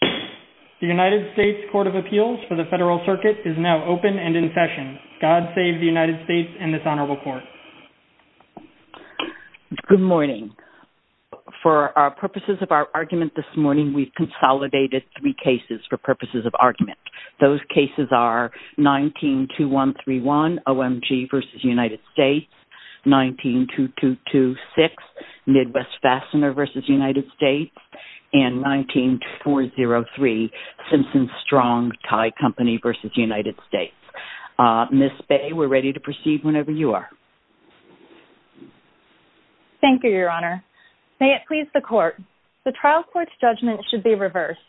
The United States Court of Appeals for the Federal Circuit is now open and in session. God save the United States and this Honorable Court. Good morning. For our purposes of our argument this morning, we've consolidated three cases for purposes of argument. Those cases are 19-2131, OMG v. United States, 19-2226, Midwest Fastener v. United States, and 19-403, Simpson Strong, Thai Company v. United States. Ms. Bay, we're ready to proceed whenever you are. Thank you, Your Honor. May it please the Court. The trial court's judgment should be reversed.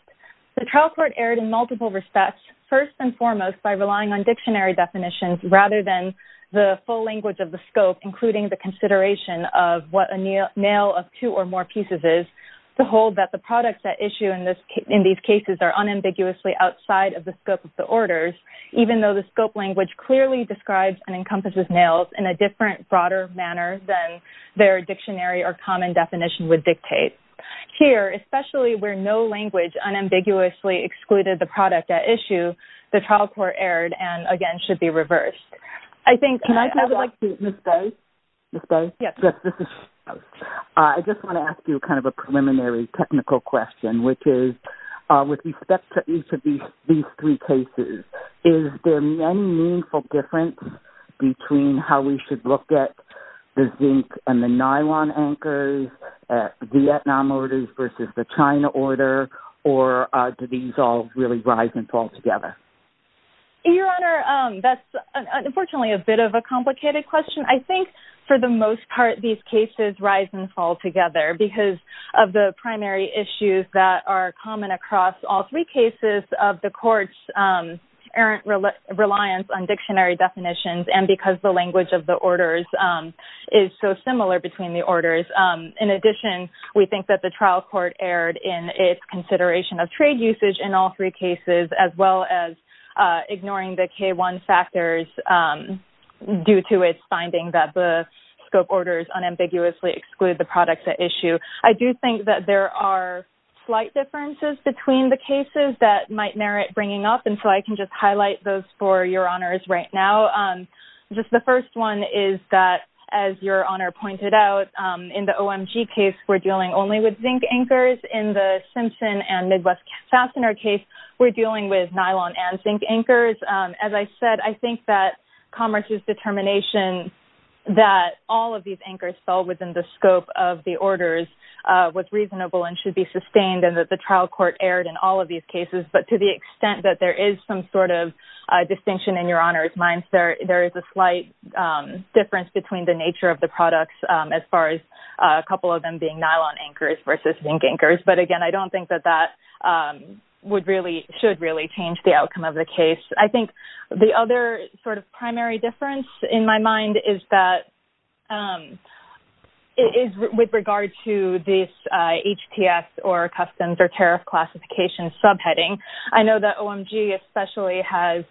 The trial court erred in multiple respects, first and foremost by relying on dictionary definitions rather than the full language of the scope, including the consideration of what a nail of two or more pieces is. To hold that the products at issue in these cases are unambiguously outside of the scope of the orders, even though the scope language clearly describes and encompasses nails in a different, broader manner than their dictionary or common definition would dictate. Here, especially where no language unambiguously excluded the product at issue, the trial court erred and, again, should be reversed. I think... Can I say something to Ms. Bay? Ms. Bay? Yes. This is... I just want to ask you kind of a preliminary technical question, which is, with respect to each of these three cases, is there any meaningful difference between how we should look at the zinc and the nylon anchors, at Vietnam orders versus the China order, or do these all really rise and fall together? Your Honor, that's, unfortunately, a bit of a complicated question. I think, for the most part, these cases rise and fall together because of the primary issues that are common across all three cases of the court's errant reliance on dictionary definitions and because the language of the orders is so similar between the orders. In addition, we think that the trial court erred in its consideration of trade usage in all three cases, as well as ignoring the K-1 factors due to its finding that the scope orders unambiguously exclude the products at issue. I do think that there are slight differences between the cases that might merit bringing up, and so I can just highlight those for Your Honors right now. Just the first one is that, as Your Honor pointed out, in the OMG case, we're dealing only with zinc anchors. In the Simpson and Midwest Fastener case, we're dealing with nylon and zinc anchors. As I said, I think that Commerce's determination that all of these anchors fell within the scope of the orders was reasonable and should be sustained and that the trial court erred in all of these cases. But to the extent that there is some sort of distinction in Your Honor's minds, there is a slight difference between the nature of the products as far as a couple of them being nylon anchors versus zinc anchors. But again, I don't think that that should really change the outcome of the case. I think the other sort of primary difference in my mind is with regard to this HTS or customs or tariff classification subheading. I know that OMG especially has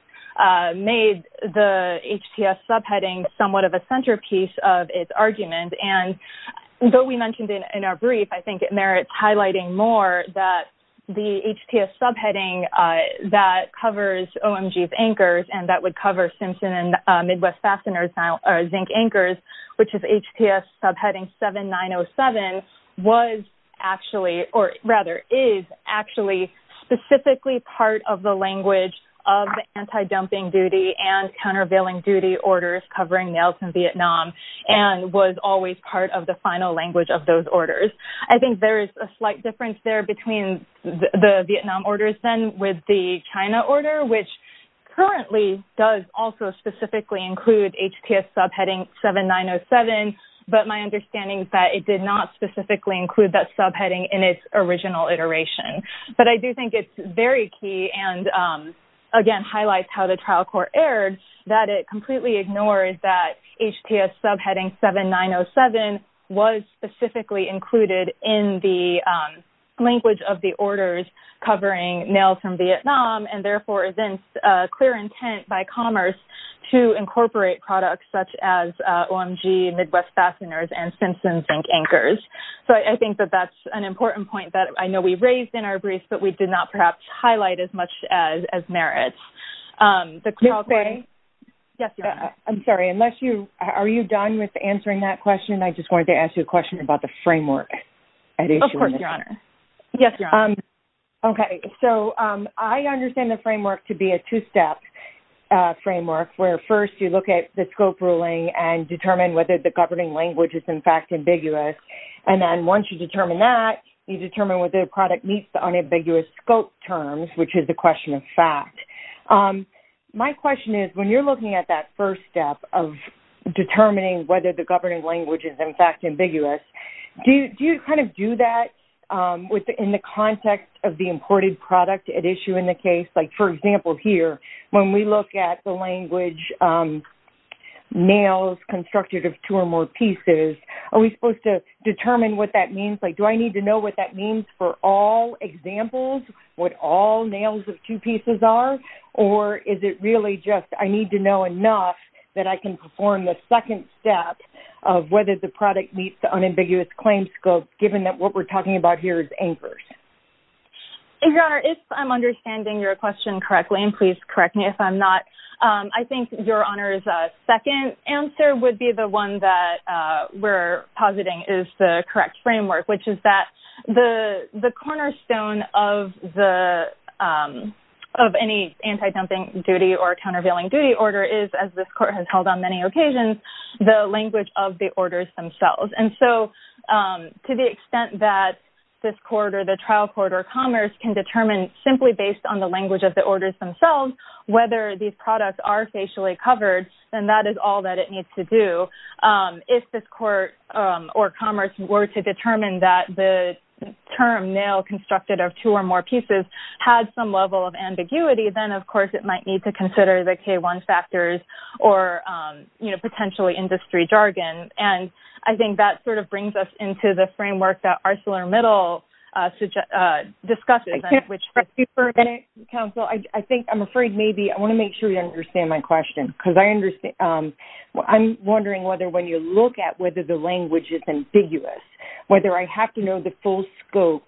made the HTS subheading somewhat of a centerpiece of its In our brief, I think it merits highlighting more that the HTS subheading that covers OMG's anchors and that would cover Simpson and Midwest Fastener's zinc anchors, which is HTS subheading 7907, was actually or rather is actually specifically part of the language of the anti-dumping duty and countervailing duty orders covering nails in Vietnam and was always part of the final language of those orders. I think there is a slight difference there between the Vietnam orders then with the China order, which currently does also specifically include HTS subheading 7907. But my understanding is that it did not specifically include that subheading in its original iteration. But I do think it's very key and again highlights how the trial court erred that it completely ignored that HTS subheading 7907 was specifically included in the language of the orders covering nails from Vietnam and therefore evinced clear intent by Commerce to incorporate products such as OMG Midwest Fasteners and Simpson's zinc anchors. So I think that that's an important point that I know we raised in our brief, but we did not perhaps highlight as much as merits. Ms. Gray? Yes, Your Honor. I'm sorry. Unless you are you done with answering that question, I just wanted to ask you a question about the framework. Of course, Your Honor. Yes, Your Honor. Okay. So I understand the framework to be a two-step framework where first you look at the scope ruling and determine whether the governing language is in fact ambiguous. And then once you determine that, you determine whether the product meets the unambiguous scope terms, which is the question of fact. My question is when you're looking at that first step of determining whether the governing language is in fact ambiguous, do you kind of do that within the context of the imported product at issue in the case? Like for example here, when we look at the language nails constructed of two or more pieces, are we supposed to determine what that means? Like do I need to know what that means for all examples, what all nails of two pieces are or is it really just I need to know enough that I can perform the second step of whether the product meets the unambiguous claim scope given that what we're talking about here is anchors? Your Honor, if I'm understanding your question correctly and please correct me if I'm not, I think Your Honor's second answer would be the one that we're positing is the correct framework, which is that the cornerstone of any anti-dumping duty or countervailing duty order is, as this court has held on many occasions, the language of the orders themselves. And so to the extent that this court or the trial court or commerce can determine simply based on the language of the orders themselves whether these products are facially covered, then that is all that it needs to do. If this court or commerce were to determine that the term nail constructed of two or more pieces had some level of ambiguity, then of course it might need to consider the K-1 factors or potentially industry jargon. And I think that sort of brings us into the framework that ArcelorMittal discussed, which Thank you for a minute, counsel. I think I'm afraid maybe I want to make sure you understand my question because I understand I'm wondering whether when you look at whether the language is ambiguous, whether I have to know the full scope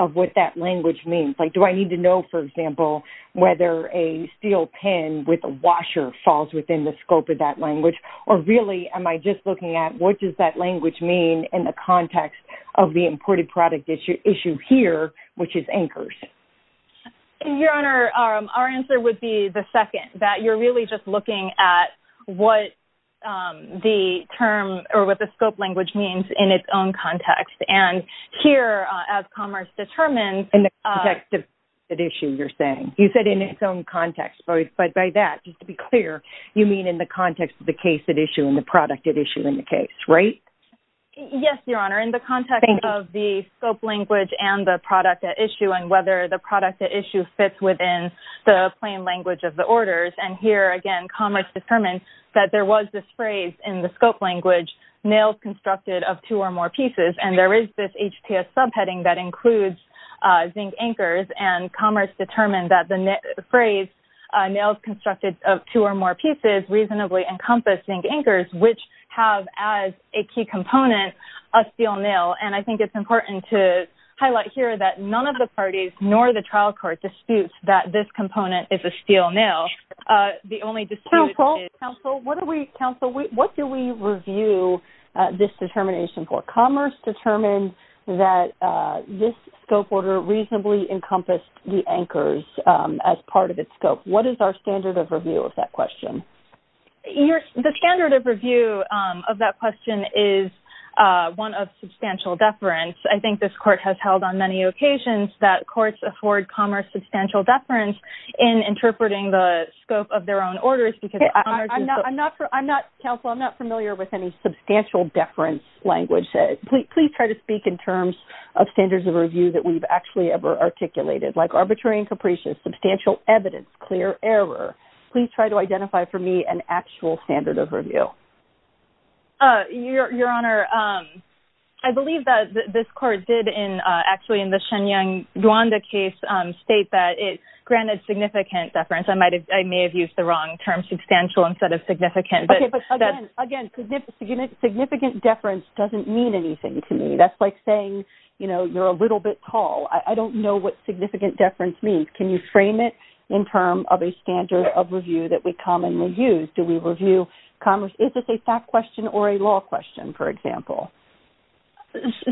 of what that language means, like do I need to know, for example, whether a steel pen with a washer falls within the scope of that language or really am I just looking at what does that language mean in the context of the imported product issue here, which is anchors? Your Honor, our answer would be the second, that you're really just looking at what the term or what the scope language means in its own context. And here, as commerce determines In the context of the issue you're saying. You said in its own context, but by that, just to be clear, you mean in the context of the case at issue and the product at issue in the case, right? Yes, Your Honor. In the context of the scope language and the product at issue and whether the product at issue fits within the plain language of the orders. And here again, commerce determined that there was this phrase in the scope language, nails constructed of two or more pieces. And there is this HTS subheading that includes zinc anchors and commerce determined that the phrase, nails constructed of two or more pieces, reasonably encompass zinc anchors, which have as a key component, a steel nail. And I think it's important to highlight here that none of the parties nor the trial court disputes that this component is a steel nail. The only dispute is Counsel, counsel, what do we, counsel, what do we review this determination for? Commerce determined that this scope order reasonably encompassed the anchors as part of its scope. What is our standard of review of that question? Your, the standard of review of that question is one of substantial deference. I think this court has held on many occasions that courts afford commerce substantial deference in interpreting the scope of their own orders because commerce is I'm not, I'm not, counsel, I'm not familiar with any substantial deference language. Please try to speak in terms of standards of review that we've actually ever articulated, like arbitrary and capricious, substantial evidence, clear error. Please try to identify for me an actual standard of review. Your, your Honor, I believe that this court did in, actually in the Shenyang Duanda case, state that it granted significant deference. I might have, I may have used the wrong term substantial instead of significant. Okay, but again, again, significant deference doesn't mean anything to me. That's like saying, you know, you're a little bit tall. I don't know what significant deference means. Can you frame it in terms of a standard of review that we commonly use? Do we review commerce, is this a fact question or a law question, for example?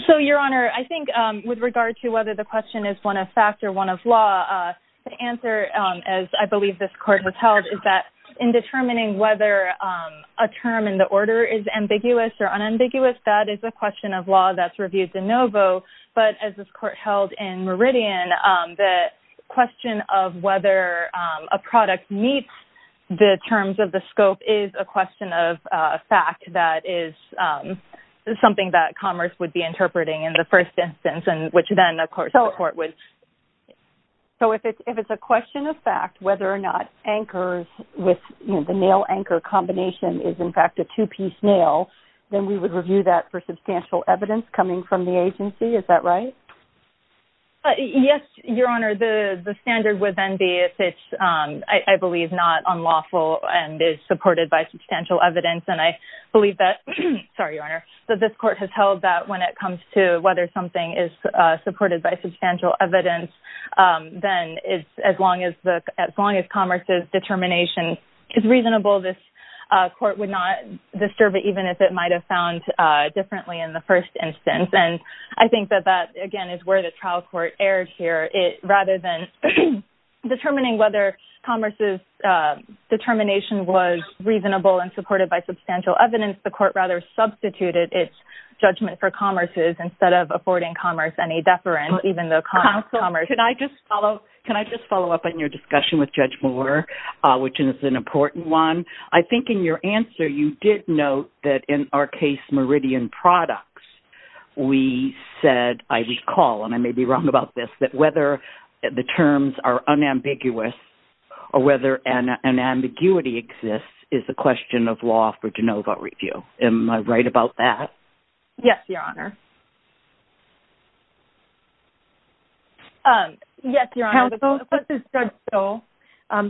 So, your Honor, I think with regard to whether the question is one of fact or one of law, the answer, as I believe this court has held, is that in determining whether a term in the order is ambiguous or unambiguous, that is a question of law that's reviewed de novo. But as this court held in Meridian, the question of whether a product meets the terms of the scope is a question of fact that is something that commerce would be interpreting in the first instance, and which then, of course, the court would. So, if it's, if it's a question of fact, whether or not anchors with, you know, the nail anchor combination is, in fact, a two-piece nail, then we would review that for substantial evidence coming from the agency, is that right? Yes, your Honor, the standard would then be if it's, I believe, not unlawful and is supported by substantial evidence, and I believe that, sorry, your Honor, that this court has held that when it comes to whether something is supported by substantial evidence, then as long as commerce's determination is reasonable, this court would not disturb it even if it might have found differently in the first instance. And I think that that, again, is where the trial court erred here. It, rather than determining whether commerce's determination was reasonable and supported by substantial evidence, the court rather substituted its judgment for commerce's instead of affording commerce any deference, even though commerce. Can I just follow, can I just follow up on your discussion with Judge Moore, which is an important one, I think in your answer you did note that, in our case, Meridian Products, we said, I recall, and I may be wrong about this, that whether the terms are unambiguous or whether an ambiguity exists is the question of law for de novo review, am I right about that? Yes, your Honor. Yes, your Honor, this is Judge Stoll.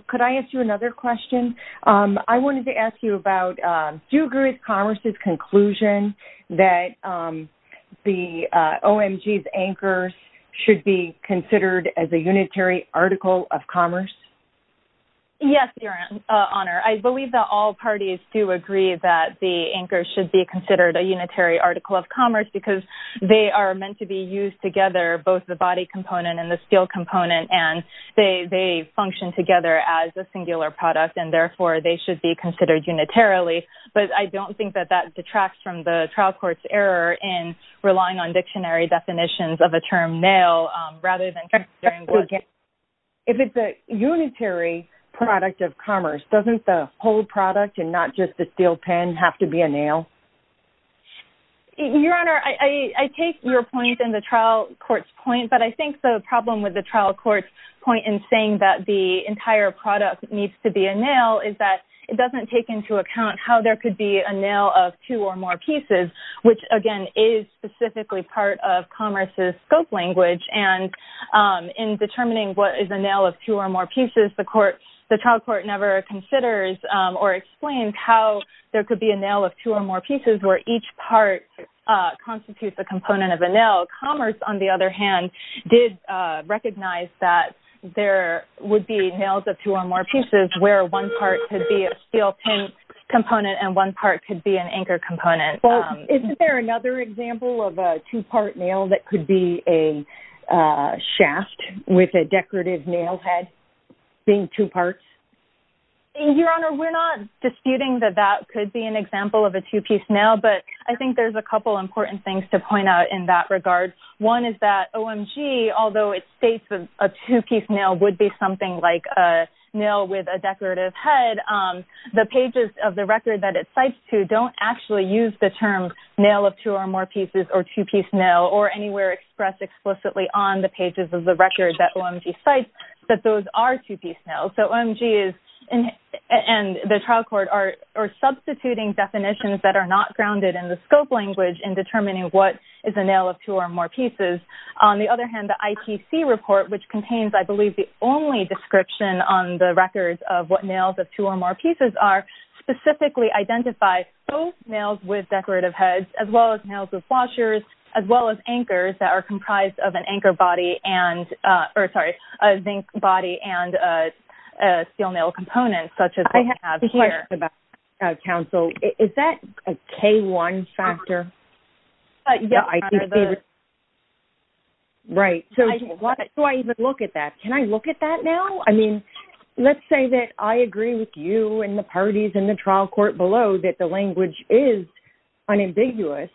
Could I ask you another question? I wanted to ask you about, do you agree with commerce's conclusion that the OMG's anchors should be considered as a unitary article of commerce? Yes, your Honor, I believe that all parties do agree that the anchors should be considered a unitary article of commerce because they are meant to be used together, both the body component and the steel component, and they function together as a singular product, and therefore they should be considered unitarily, but I don't think that that detracts from the trial court's error in relying on dictionary definitions of a term nail rather than considering what... If it's a unitary product of commerce, doesn't the whole product and not just the steel pen have to be a nail? Your Honor, I take your point and the trial court's point, but I think the problem with the trial court's point in saying that the entire product needs to be a nail is that it doesn't take into account how there could be a nail of two or more pieces, which again is specifically part of commerce's scope language, and in determining what is a nail of two or more pieces, the trial court never considers or explains how there could be a nail of two or more pieces where each part constitutes a component of a nail. Commerce, on the other hand, did recognize that there would be nails of two or more pieces where one part could be a steel pen component and one part could be an anchor component. Well, isn't there another example of a two-part nail that could be a shaft with a decorative nail head being two parts? Your Honor, we're not disputing that that could be an example of a two-piece nail, but I think there's a couple important things to point out in that regard. One is that OMG, although it states that a two-piece nail would be something like a nail with a decorative head, the pages of the record that it cites to don't actually use the term nail of two or more pieces or two-piece nail or anywhere expressed explicitly on the pages of the record that OMG cites that those are two-piece nails. So OMG and the trial court are substituting definitions that are not grounded in the scope language in determining what is a nail of two or more pieces. On the other hand, the IPC report, which contains, I believe, the only description on the records of what nails of two or more pieces are, specifically identify both nails with decorative heads as well as nails with washers as well as anchors that are comprised of an anchor body and, or sorry, a zinc body and a steel nail component such as we have here. I have a question about counsel. Is that a K1 factor? Yeah. Right. So why do I even look at that? Can I look at that now? I mean, let's say that I agree with you and the parties in the trial court below that the language is unambiguous,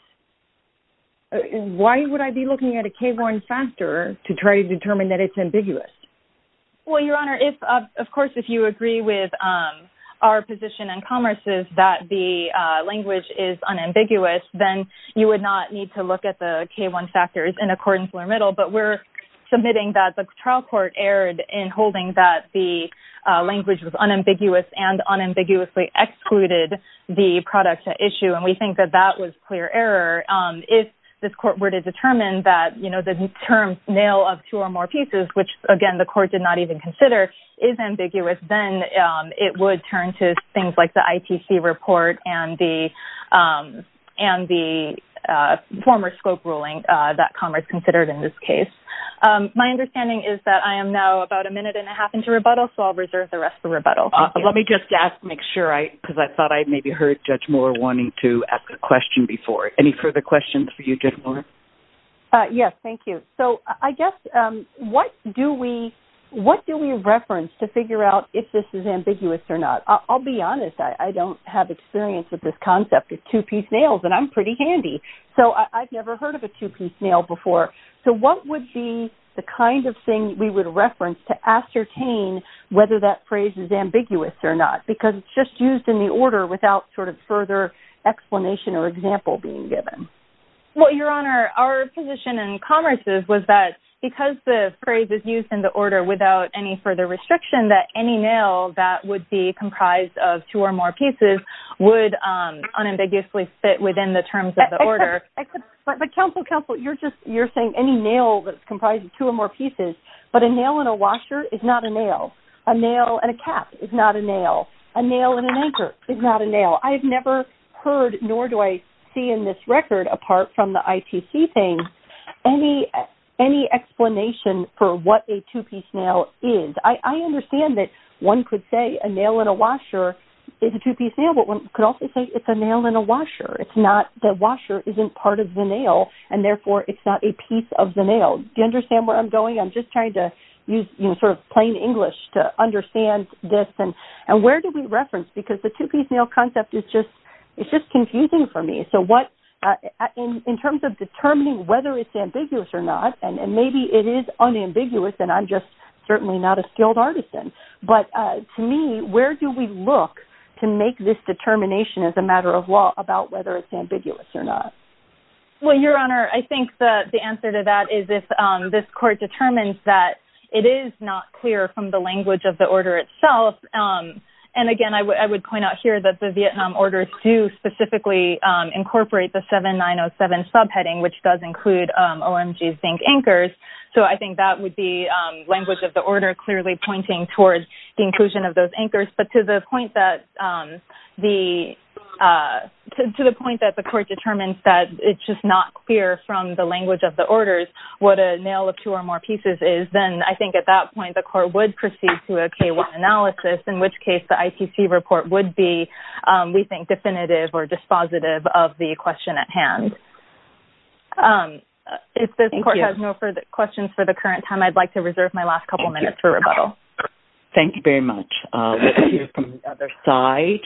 why would I be looking at a K1 factor to try to determine that it's ambiguous? Well, Your Honor, if, of course, if you agree with our position in commerce is that the language is unambiguous, then you would not need to look at the K1 factors in accordance with our middle, but we're submitting that the trial court erred in holding that the language was unambiguous and unambiguously excluded the product to issue, and we think that that was clear error. If this court were to determine that, you know, the term nail of two or more pieces, which again the court did not even consider, is ambiguous, then it would turn to things like the ITC report and the former scope ruling that commerce considered in this case. My understanding is that I am now about a minute and a half into rebuttal, so I'll reserve the rest for rebuttal. Thank you. Let me just ask, make sure, because I thought I maybe heard Judge Mueller wanting to ask a question before. Any further questions for you, Judge Mueller? Yes. Thank you. So I guess, what do we reference to figure out if this is ambiguous or not? I'll be honest, I don't have experience with this concept of two-piece nails, and I'm pretty handy, so I've never heard of a two-piece nail before. So what would be the kind of thing we would reference to ascertain whether that phrase is ambiguous or not? Because it's just used in the order without sort of further explanation or example being given. Well, Your Honor, our position in commerce was that because the phrase is used in the order without any further restriction, that any nail that would be comprised of two or more pieces would unambiguously fit within the terms of the order. But counsel, counsel, you're just, you're saying any nail that's comprised of two or more pieces, but a nail in a washer is not a nail. A nail in a cap is not a nail. A nail in an anchor is not a nail. I have never heard, nor do I see in this record, apart from the ITC thing, any explanation for what a two-piece nail is. I understand that one could say a nail in a washer is a two-piece nail, but one could also say it's a nail in a washer. It's not, the washer isn't part of the nail, and therefore, it's not a piece of the nail. Do you understand where I'm going? I'm just trying to use, you know, sort of plain English to understand this. And where do we reference? Because the two-piece nail concept is just, it's just confusing for me. So what, in terms of determining whether it's ambiguous or not, and maybe it is unambiguous, and I'm just certainly not a skilled artisan. But to me, where do we look to make this determination as a matter of law about whether it's ambiguous or not? Well, Your Honor, I think the answer to that is if this court determines that it is not clear from the language of the order itself, and again, I would point out here that the Vietnam Orders do specifically incorporate the 7907 subheading, which does include OMG zinc anchors, so I think that would be language of the order clearly pointing towards the inclusion of those anchors. But to the point that the court determines that it's just not clear from the language of the orders what a nail of two or more pieces is, then I think at that point, the court would proceed to a K-1 analysis, in which case the ICC report would be, we think, definitive or dispositive of the question at hand. If this court has no further questions for the current time, I'd like to reserve my last couple minutes for rebuttal. Thank you very much. Let's hear from the other side.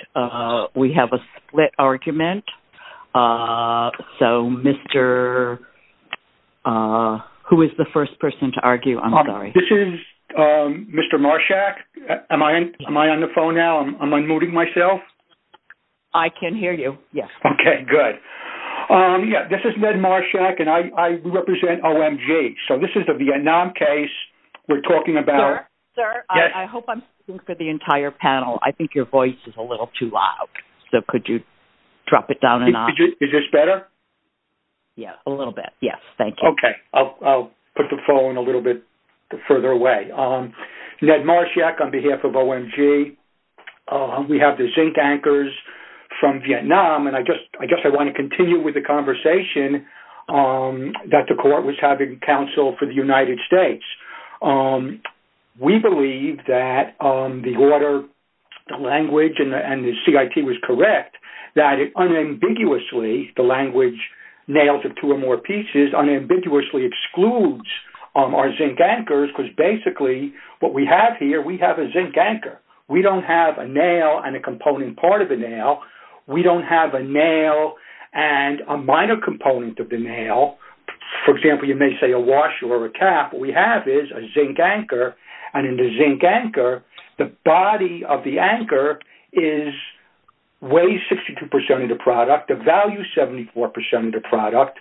We have a split argument, so Mr. Who is the first person to argue? I'm sorry. This is Mr. Marshak. Am I on the phone now? Am I unmuting myself? I can hear you, yes. Okay, good. Yeah, this is Ned Marshak, and I represent OMG, so this is the Vietnam case we're talking about. Sir, I hope I'm speaking for the entire panel. I think your voice is a little too loud, so could you drop it down a notch? Is this better? Yeah, a little bit, yes, thank you. Okay, I'll put the phone a little bit further away. Ned Marshak, on behalf of OMG, we have the zinc anchors from Vietnam, and I guess I want to continue with the conversation that the court was having counsel for the United States. We believe that the order, the language, and the CIT was correct, that it unambiguously, the language, nails of two or more pieces, unambiguously excludes our zinc anchors, because basically what we have here, we have a zinc anchor. We don't have a nail and a component part of the nail. We don't have a nail and a minor component of the nail. For example, you may say a washer or a cap. What we have is a zinc anchor, and in the zinc anchor, the body of the anchor weighs 62% of the product, the value is 74% of the product,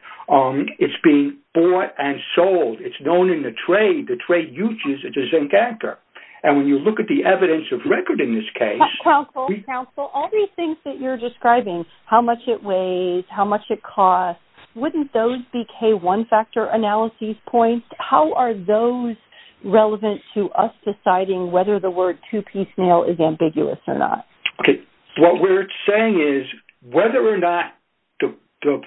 it's being bought and sold. It's known in the trade, the trade uses the zinc anchor, and when you look at the evidence of record in this case- Counsel, counsel, all these things that you're describing, how much it weighs, how much it costs, wouldn't those be K1 factor analysis points? How are those relevant to us deciding whether the word two-piece nail is ambiguous or not? Okay, what we're saying is, whether or not the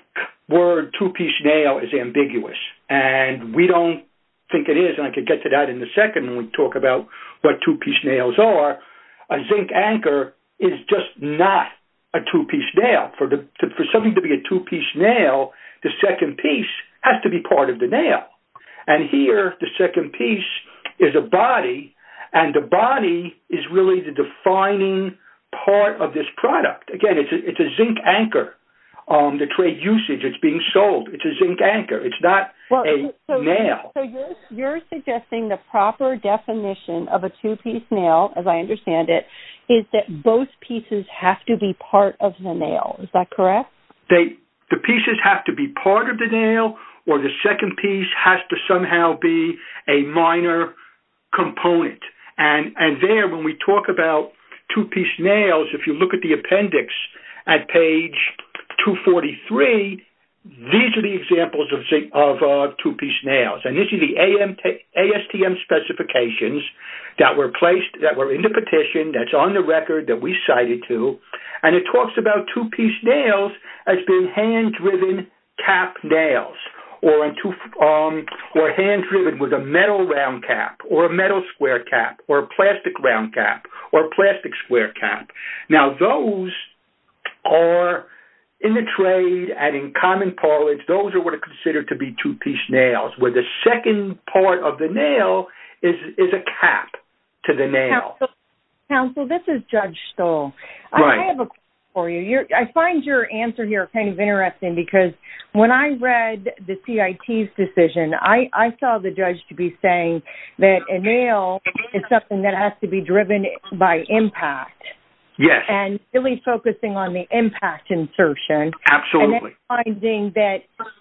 word two-piece nail is ambiguous, and we don't think it is, and I could get to that in a second when we talk about what two-piece nails are, a zinc anchor is just not a two-piece nail. For something to be a two-piece nail, the second piece has to be part of the nail. And here, the second piece is a body, and the body is really the defining part of this product. Again, it's a zinc anchor, the trade usage, it's being sold, it's a zinc anchor, it's not a nail. So you're suggesting the proper definition of a two-piece nail, as I understand it, is that both pieces have to be part of the nail. Is that correct? The pieces have to be part of the nail, or the second piece has to somehow be a minor component. And there, when we talk about two-piece nails, if you look at the appendix at page 243, these are the examples of two-piece nails. And you see the ASTM specifications that were placed, that were in the petition, that's on the record, that we cited too. And it talks about two-piece nails as being hand-driven cap nails, or hand-driven with a metal round cap, or a metal square cap, or a plastic round cap, or a plastic square cap. Now those are, in the trade and in common parlance, those are what are considered to be two-piece nails, where the second part of the nail is a cap to the nail. Counsel, this is Judge Stoll. I have a question for you. I find your answer here kind of interesting because when I read the CIT's decision, I saw the judge to be saying that a nail is something that has to be driven by impact. Yes. And really focusing on the impact insertion. Absolutely. That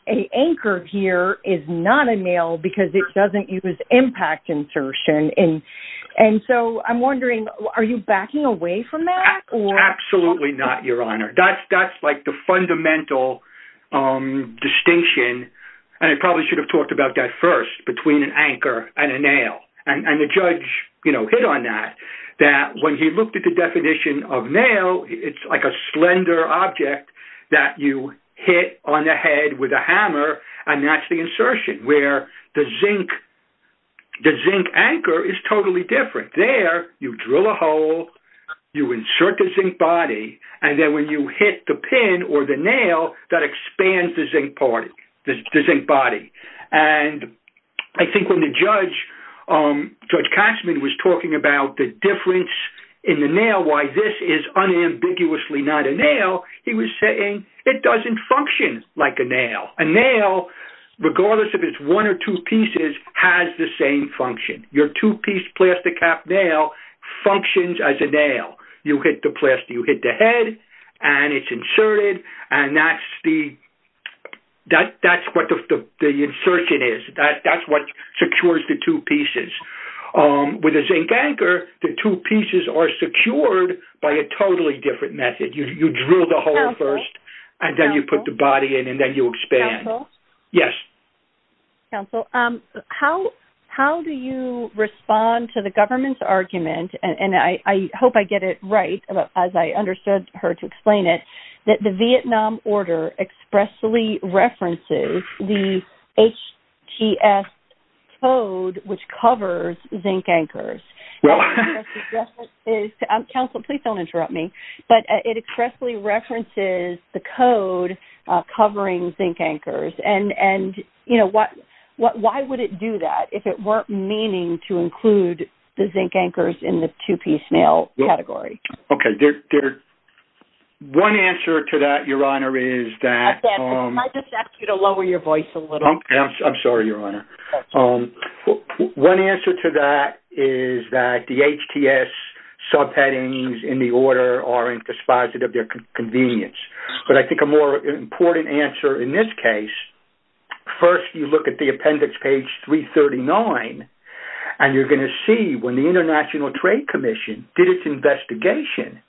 an anchor here is not a nail because it doesn't use impact insertion. And so I'm wondering, are you backing away from that? Absolutely not, Your Honor. That's like the fundamental distinction, and I probably should have talked about that first, between an anchor and a nail. And the judge hit on that, that when he looked at the definition of nail, it's like a slender object that you hit on the head with a hammer, and that's the insertion, where the zinc anchor is totally different. There, you drill a hole, you insert the zinc body, and then when you hit the pin or the nail, that expands the zinc body. And I think when the judge, Judge Katzmann, was talking about the difference in the nail, why this is unambiguously not a nail, he was saying it doesn't function like a nail. A nail, regardless if it's one or two pieces, has the same function. Your two-piece plastic cap nail functions as a nail. You hit the head, and it's inserted, and that's what the insertion is. That's what secures the two pieces. With a zinc anchor, the two pieces are secured by a totally different method. You drill the hole first, and then you put the body in, and then you expand. Counsel? Yes. Counsel, how do you respond to the government's argument, and I hope I get it right, as I understood her to explain it, that the Vietnam Order expressly references the HGS code, which covers zinc anchors? Counsel, please don't interrupt me, but it expressly references the code covering zinc anchors, and why would it do that if it weren't meaning to include the zinc anchors in the two-piece nail category? Okay. One answer to that, Your Honor, is that... Can I just ask you to lower your voice a little? I'm sorry, Your Honor. One answer to that is that the HTS subheadings in the order aren't dispositive. They're convenience, but I think a more important answer in this case, first, you look at the appendix, page 339, and you're going to see when the International Trade Commission did its investigation,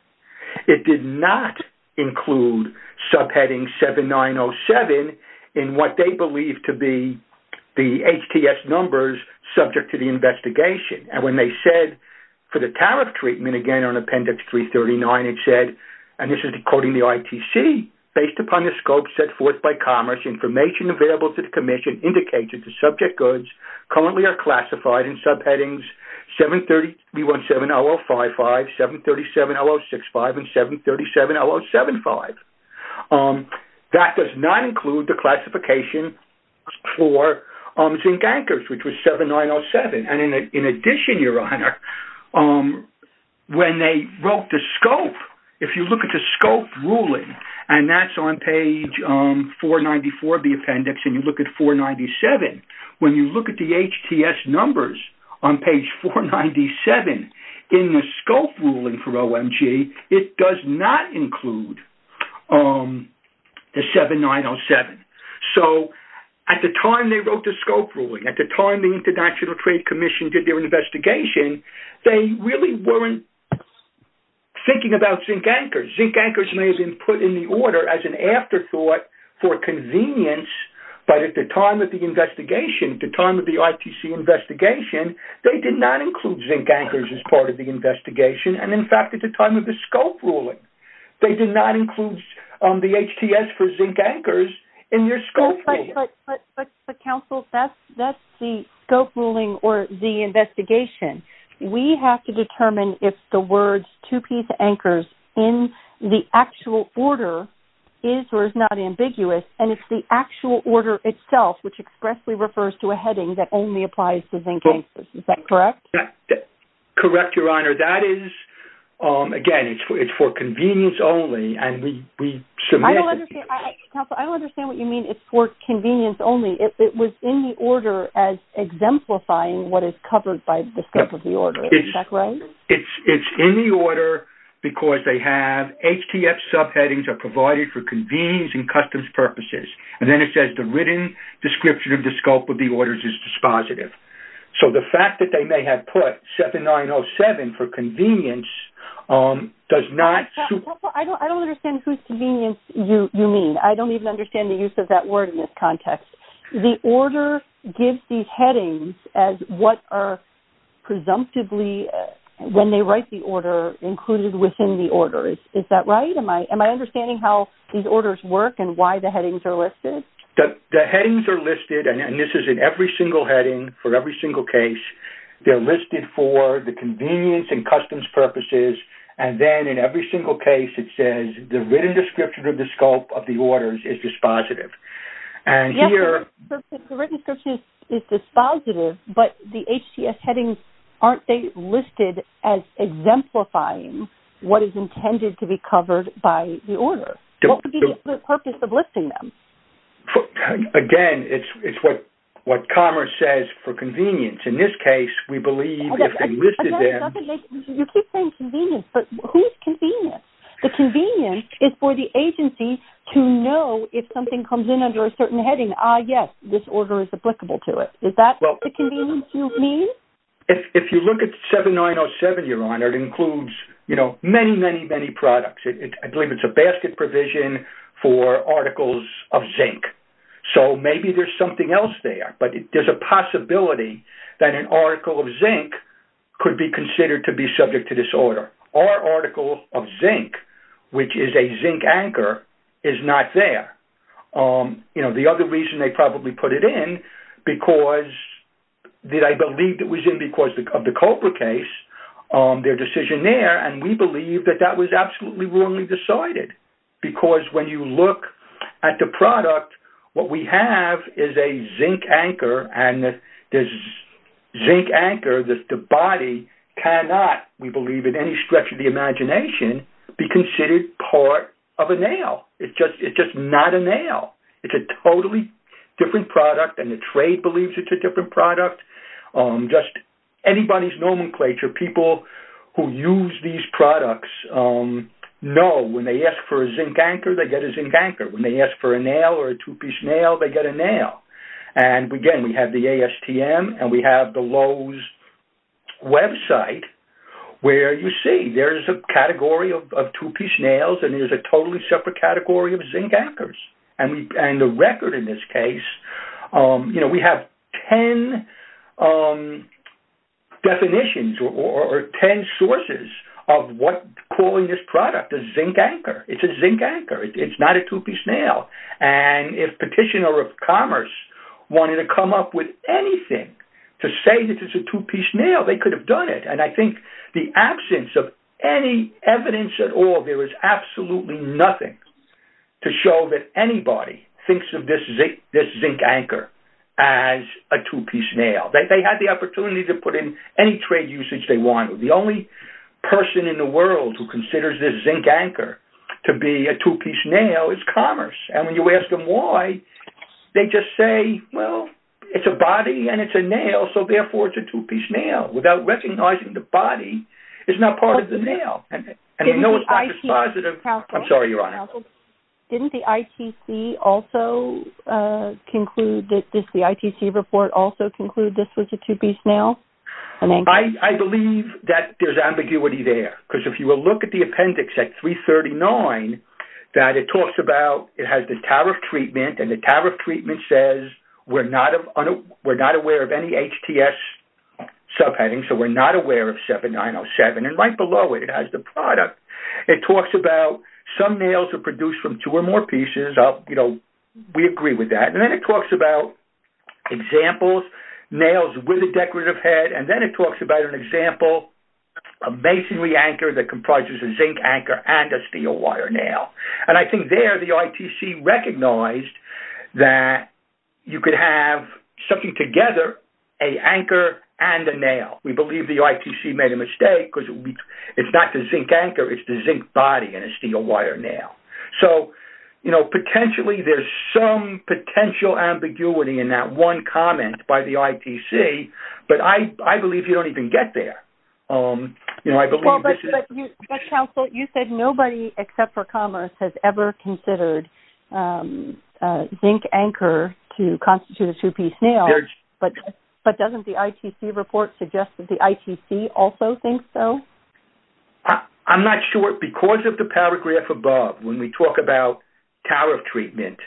it did not include subheading 7907 in what they believe to be the HTS numbers subject to the investigation, and when they said for the tariff treatment, again, on appendix 339, it said, and this is quoting the ITC, based upon the scope set forth by Commerce, information available to the Commission indicates that the subject goods currently are classified in subheadings 730-B17-0055, 730-B17-0065, and 730-B17-0075. That does not include the classification for zinc anchors, which was 7907, and in addition, Your Honor, when they wrote the scope, if you look at the scope ruling, and that's on page 494 of the appendix, and you look at 497, when you look at the HTS numbers on page 497, in the scope ruling for OMG, it does not include the 7907. So, at the time they wrote the scope ruling, at the time the International Trade Commission did their investigation, they really weren't thinking about zinc anchors. Zinc anchors may have been put in the order as an afterthought for convenience, but at the time of the investigation, at the time of the ITC investigation, they did not include zinc anchors as part of the investigation, and in fact, at the time of the scope ruling, they did not include the HTS for zinc anchors in their scope. But, Counsel, that's the scope ruling or the investigation. We have to determine if the words two-piece anchors in the actual order is or is not ambiguous, and if the actual order itself, which expressly refers to a heading that only applies to zinc anchors. Is that correct? Correct, Your Honor. That is, again, it's for convenience only, and we submit... Counsel, I don't understand what you mean, it's for convenience only. It was in the order as exemplifying what is covered by the scope of the order. Is that right? It's in the order because they have HTF subheadings are provided for convenience and customs purposes, and then it says the written description of the scope of the orders is dispositive. So, the fact that they may have put 7907 for convenience does not... I don't understand whose convenience you mean. I don't even understand the use of that word in this context. The order gives these headings as what are presumptively, when they write the order, included within the order. Is that right? Am I understanding how these orders work and why the headings are listed? The headings are listed, and this is in every single heading for every single case. They're listed as exemplifying what is intended to be covered by the order. What would be the purpose of listing them? Again, it's what Commerce says for convenience. In this case, we believe if they listed them... You keep saying convenience, but who's convenience? The convenience is for the agency to know if something comes in under a certain heading, yes, this order is applicable to it. Is that the convenience you mean? If you look at 7907, Your Honor, it includes many, many, many products. I believe it's a basket provision for articles of zinc. So, maybe there's something else there, but there's a possibility that an article of zinc could be considered to be subject to this order. Our article of zinc, which is a zinc anchor, is not there. The other reason they probably put it in, because I believe it was in because of the Cobra case, their decision there, and we believe that that was absolutely wrongly decided. Because when you look at the product, what we have is a zinc anchor, and the zinc anchor, the body, cannot, we believe in any stretch of the imagination, be considered part of a nail. It's just not a nail. It's a totally different product, and the trade believes it's a different product. Just anybody's nomenclature, people who use these products know when they ask for a zinc anchor, they get a zinc anchor. When they ask for a nail or a two-piece nail, they get a nail. And again, we have the ASTM, and we have the Lowe's website, where you see there's a category of two-piece nails, and there's a totally separate category of zinc anchors. And the record in this is 10 definitions or 10 sources of what calling this product a zinc anchor. It's a zinc anchor. It's not a two-piece nail. And if Petitioner of Commerce wanted to come up with anything to say that it's a two-piece nail, they could have done it. And I think the absence of any evidence at all, there is absolutely nothing to show that anybody thinks of this zinc anchor as a two-piece nail. They had the opportunity to put in any trade usage they wanted. The only person in the world who considers this zinc anchor to be a two-piece nail is Commerce. And when you ask them why, they just say, well, it's a body and it's a nail, so therefore it's a two-piece nail. Without recognizing the body, it's not part of the nail. Didn't the ITC report also conclude this was a two-piece nail? I believe that there's ambiguity there. Because if you will look at the appendix at 339, that it talks about it has the tariff treatment, and the tariff treatment says, we're not aware of any HTS subheading, so we're not aware of 7907. And right below it, it has the product. It talks about some nails are produced from two or more pieces. We agree with that. And then it talks about examples, nails with a decorative head. And then it talks about an example, a masonry anchor that comprises a zinc anchor and a steel wire nail. And I think there, the ITC recognized that you could have something together, an anchor and a nail. We believe the ITC made a mistake because it's not the zinc anchor, it's the zinc body and a steel wire nail. So, you know, potentially there's some potential ambiguity in that one comment by the ITC, but I believe you don't even get there. You know, I believe this is... Well, but counsel, you said nobody except for Commerce has ever considered zinc anchor to constitute a two-piece nail. But doesn't the ITC report suggest that the ITC also thinks so? I'm not sure. Because of the paragraph above, when we talk about tariff treatment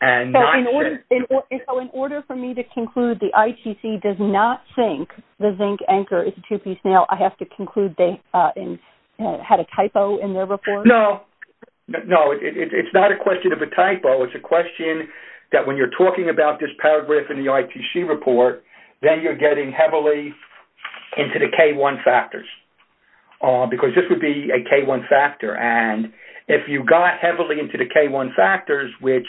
and... So, in order for me to conclude the ITC does not think the zinc anchor is a two-piece nail, I have to conclude they had a typo in their report? No. No, it's not a question of a typo. It's a question that when you're talking about this paragraph in the ITC report, then you're getting heavily into the K-1 factors. Because this would be a K-1 factor. And if you got heavily into the K-1 factors, which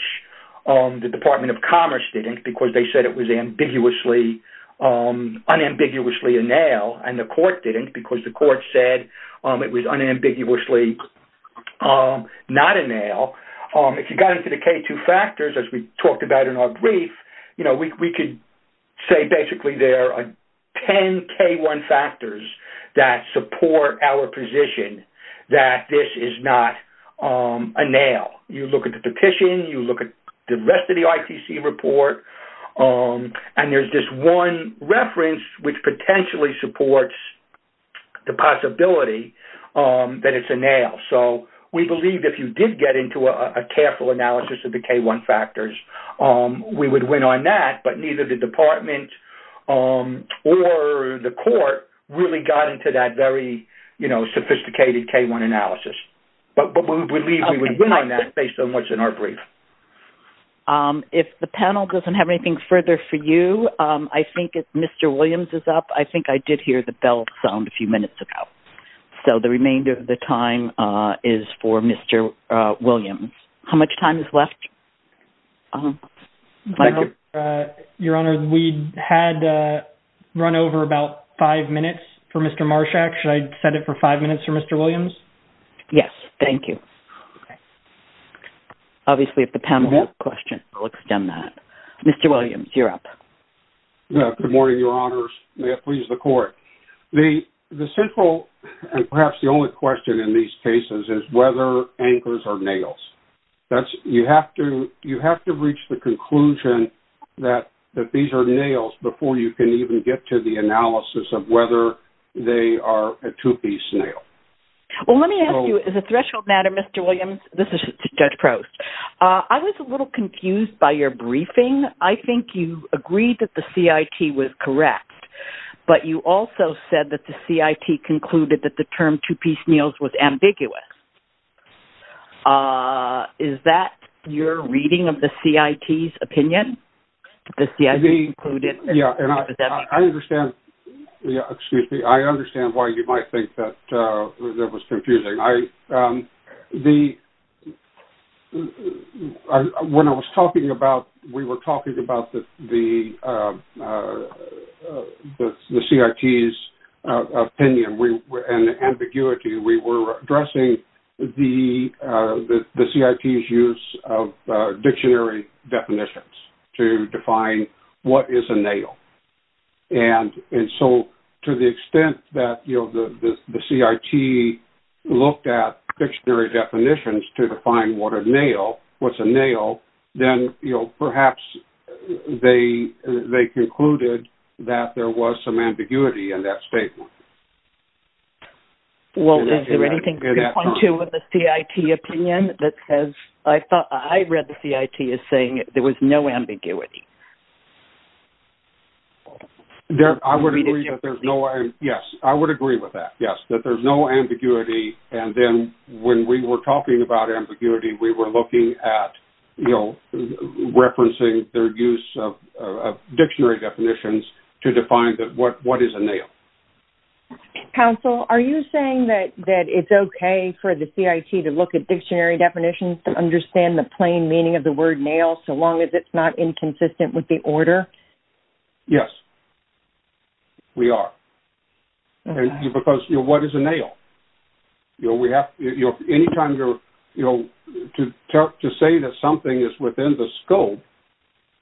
the Department of Commerce didn't because they said it was unambiguously a nail, and the court didn't because the court said it was unambiguously not a nail, if you got into the K-2 factors, as we talked about in our brief, you know, we could say basically there are 10 K-1 factors that support our position that this is not a nail. You look at the petition, you look at the rest of the ITC report, and there's this one reference which potentially supports the possibility that it's a nail. So, we believe if you did get into a careful analysis of the K-1 factors, we would win on that, but neither the department or the court really got into that very, you know, sophisticated K-1 analysis. But we believe we would win on that based on what's in our brief. If the panel doesn't have anything further for you, I think if Mr. Williams is up, I think I did hear the bell sound a few minutes ago. So, the remainder of the time is for Mr. Williams. How much time is left? Your Honor, we had run over about five minutes for Mr. Marshak. Should I set it for five minutes for Mr. Williams? Yes, thank you. Obviously, if the panel has a question, we'll extend that. Mr. Williams, you're up. Good morning, Your Honors. May it please the court. The central and perhaps the only question in these cases is whether anchors are nails. You have to reach the conclusion that these are nails before you can even get to the analysis of whether they are a two-piece nail. Well, let me ask you, as a threshold matter, Mr. Williams, this is Judge Prost. I was a little confused by your briefing. I think you agreed that the CIT was correct, but you also said that the CIT concluded that the term two-piece nails was ambiguous. Is that your reading of the CIT's opinion? The CIT included? Yeah, and I understand, excuse me, I understand why you might think that that was confusing. When I was talking about, we were talking about the CIT's opinion and ambiguity. We were addressing the CIT's use of dictionary definitions to define what is a nail. To the extent that the CIT looked at dictionary definitions to define what's a nail, then perhaps they concluded that there was some ambiguity in that statement. Well, is there anything to point to with the CIT opinion that says, I thought, I read the CIT as saying there was no ambiguity? I would agree that there's no, yes, I would agree with that, yes, that there's no ambiguity. And then when we were talking about ambiguity, we were looking at, you know, referencing their use of dictionary definitions to define what is a nail. Counsel, are you saying that it's okay for the CIT to look at dictionary definitions to understand the plain meaning of the word nail, so long as it's not inconsistent with the order? Yes, we are. Because what is a nail? You know, we have, you know, anytime you're, you know, to say that something is within the scope,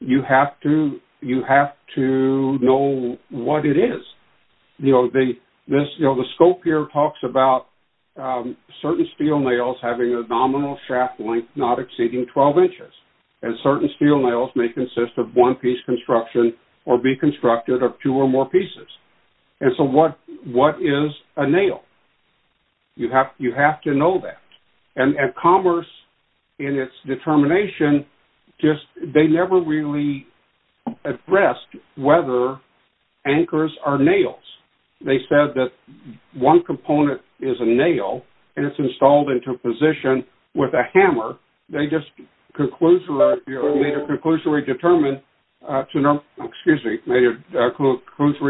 you have to, you have to know what it is. You know, the scope here talks about certain steel nails having a nominal shaft length not exceeding 12 inches. And certain steel nails may consist of one piece construction or be constructed of two or more pieces. And so, what is a nail? You have to know that. And Commerce, in its determination, just, they never really addressed whether anchors are nails. They said that one component is a nail, and it's installed into position with a hammer. They just made a conclusory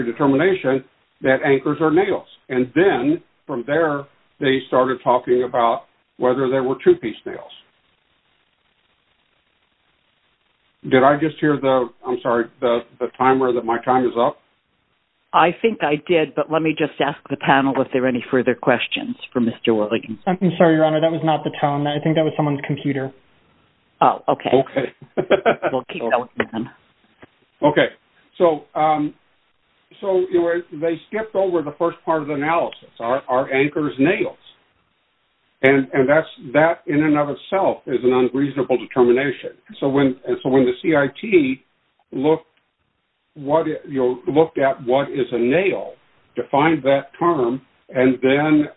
determination that anchors are nails. And then, from there, they started talking about whether there were two-piece nails. Did I just hear the, I'm sorry, the timer, that my time is up? I think I did, but let me just ask the panel if there are any further questions for Mr. Williams. I'm sorry, Your Honor, that was not the tone. I think that was someone's computer. Oh, okay. Okay. We'll keep going then. Okay. So, they skipped over the first part of the analysis. Are anchors nails? And that, in and of itself, is an unreasonable determination. So, when the CIT looked at what is a nail, defined that term, and then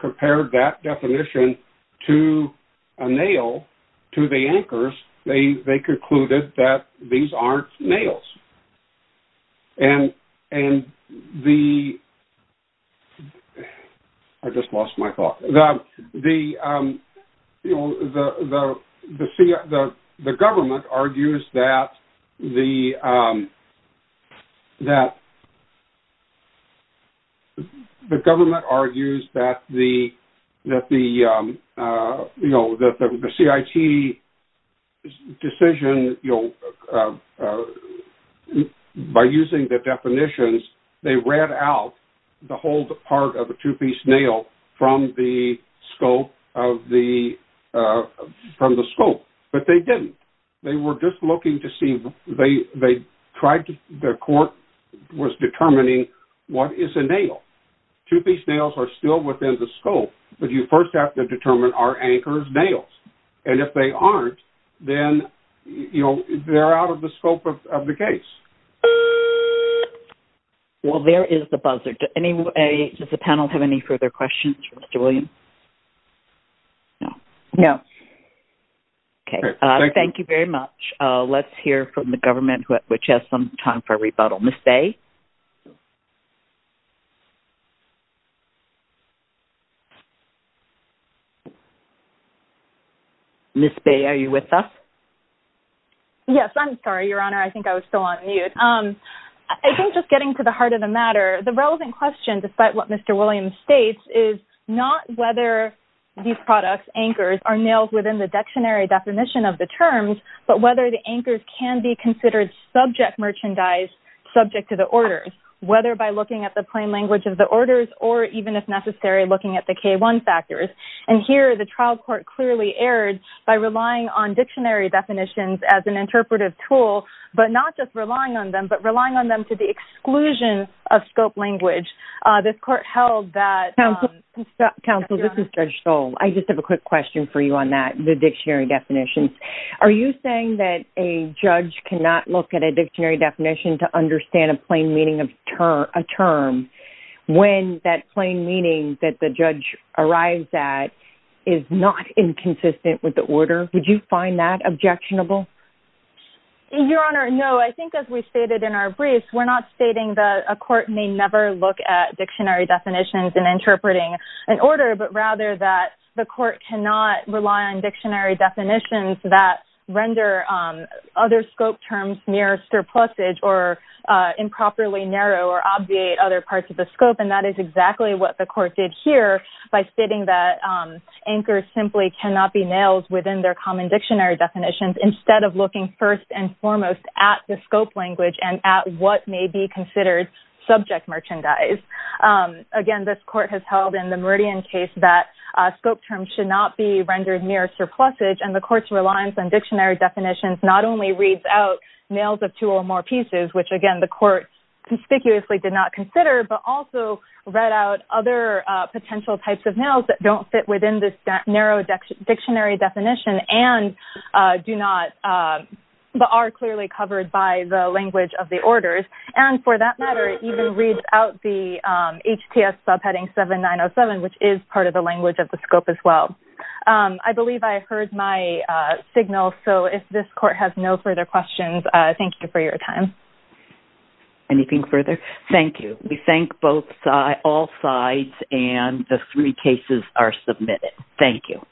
compared that definition to a nail, to the anchors, they concluded that these aren't the nails. The government argues that the CIT decision, by using the definitions, they read out the whole part of a two-piece nail from the scope, but they didn't. They were just two-piece nails. Two-piece nails are still within the scope, but you first have to determine, are anchors nails? And if they aren't, then, you know, they're out of the scope of the case. Well, there is the buzzer. Does the panel have any further questions for Mr. Williams? No. No. Okay. Thank you very much. Let's hear from the government, which has some time for rebuttal. Ms. Day? Ms. Day, are you with us? Yes. I'm sorry, Your Honor. I think I was still on mute. I think, just getting to the heart of the matter, the relevant question, despite what Mr. Williams states, is not whether these products, anchors, are nails within the dictionary definition of the terms, but whether the anchors can be considered subject merchandise, subject to orders, whether by looking at the plain language of the orders, or even, if necessary, looking at the K-1 factors. And here, the trial court clearly erred by relying on dictionary definitions as an interpretive tool, but not just relying on them, but relying on them to the exclusion of scope language. This court held that... Counsel, this is Judge Stoll. I just have a quick question for you on that, the dictionary definitions. Are you saying that a judge cannot look at a dictionary definition to understand a plain meaning of a term when that plain meaning that the judge arrives at is not inconsistent with the order? Would you find that objectionable? Your Honor, no. I think, as we stated in our brief, we're not stating that a court may never look at dictionary definitions in interpreting an order, but rather that the court cannot rely on dictionary definitions that render other scope terms near surplusage, or improperly narrow, or obviate other parts of the scope. And that is exactly what the court did here by stating that anchors simply cannot be nails within their common dictionary definitions, instead of looking first and foremost at the scope language and at what may be considered subject merchandise. Again, this court has held in the Meridian case that scope terms should not be rendered near surplusage, and the court's reliance on dictionary definitions not only reads out nails of two or more pieces, which, again, the court conspicuously did not consider, but also read out other potential types of nails that don't fit within this narrow dictionary definition and do not... are clearly covered by the language of the orders. And for that matter, it even reads out the HTS subheading 7907, which is part of the language of the scope as well. I believe I heard my signal, so if this court has no further questions, thank you for your time. Anything further? Thank you. We thank all sides, and the three cases are submitted. Thank you.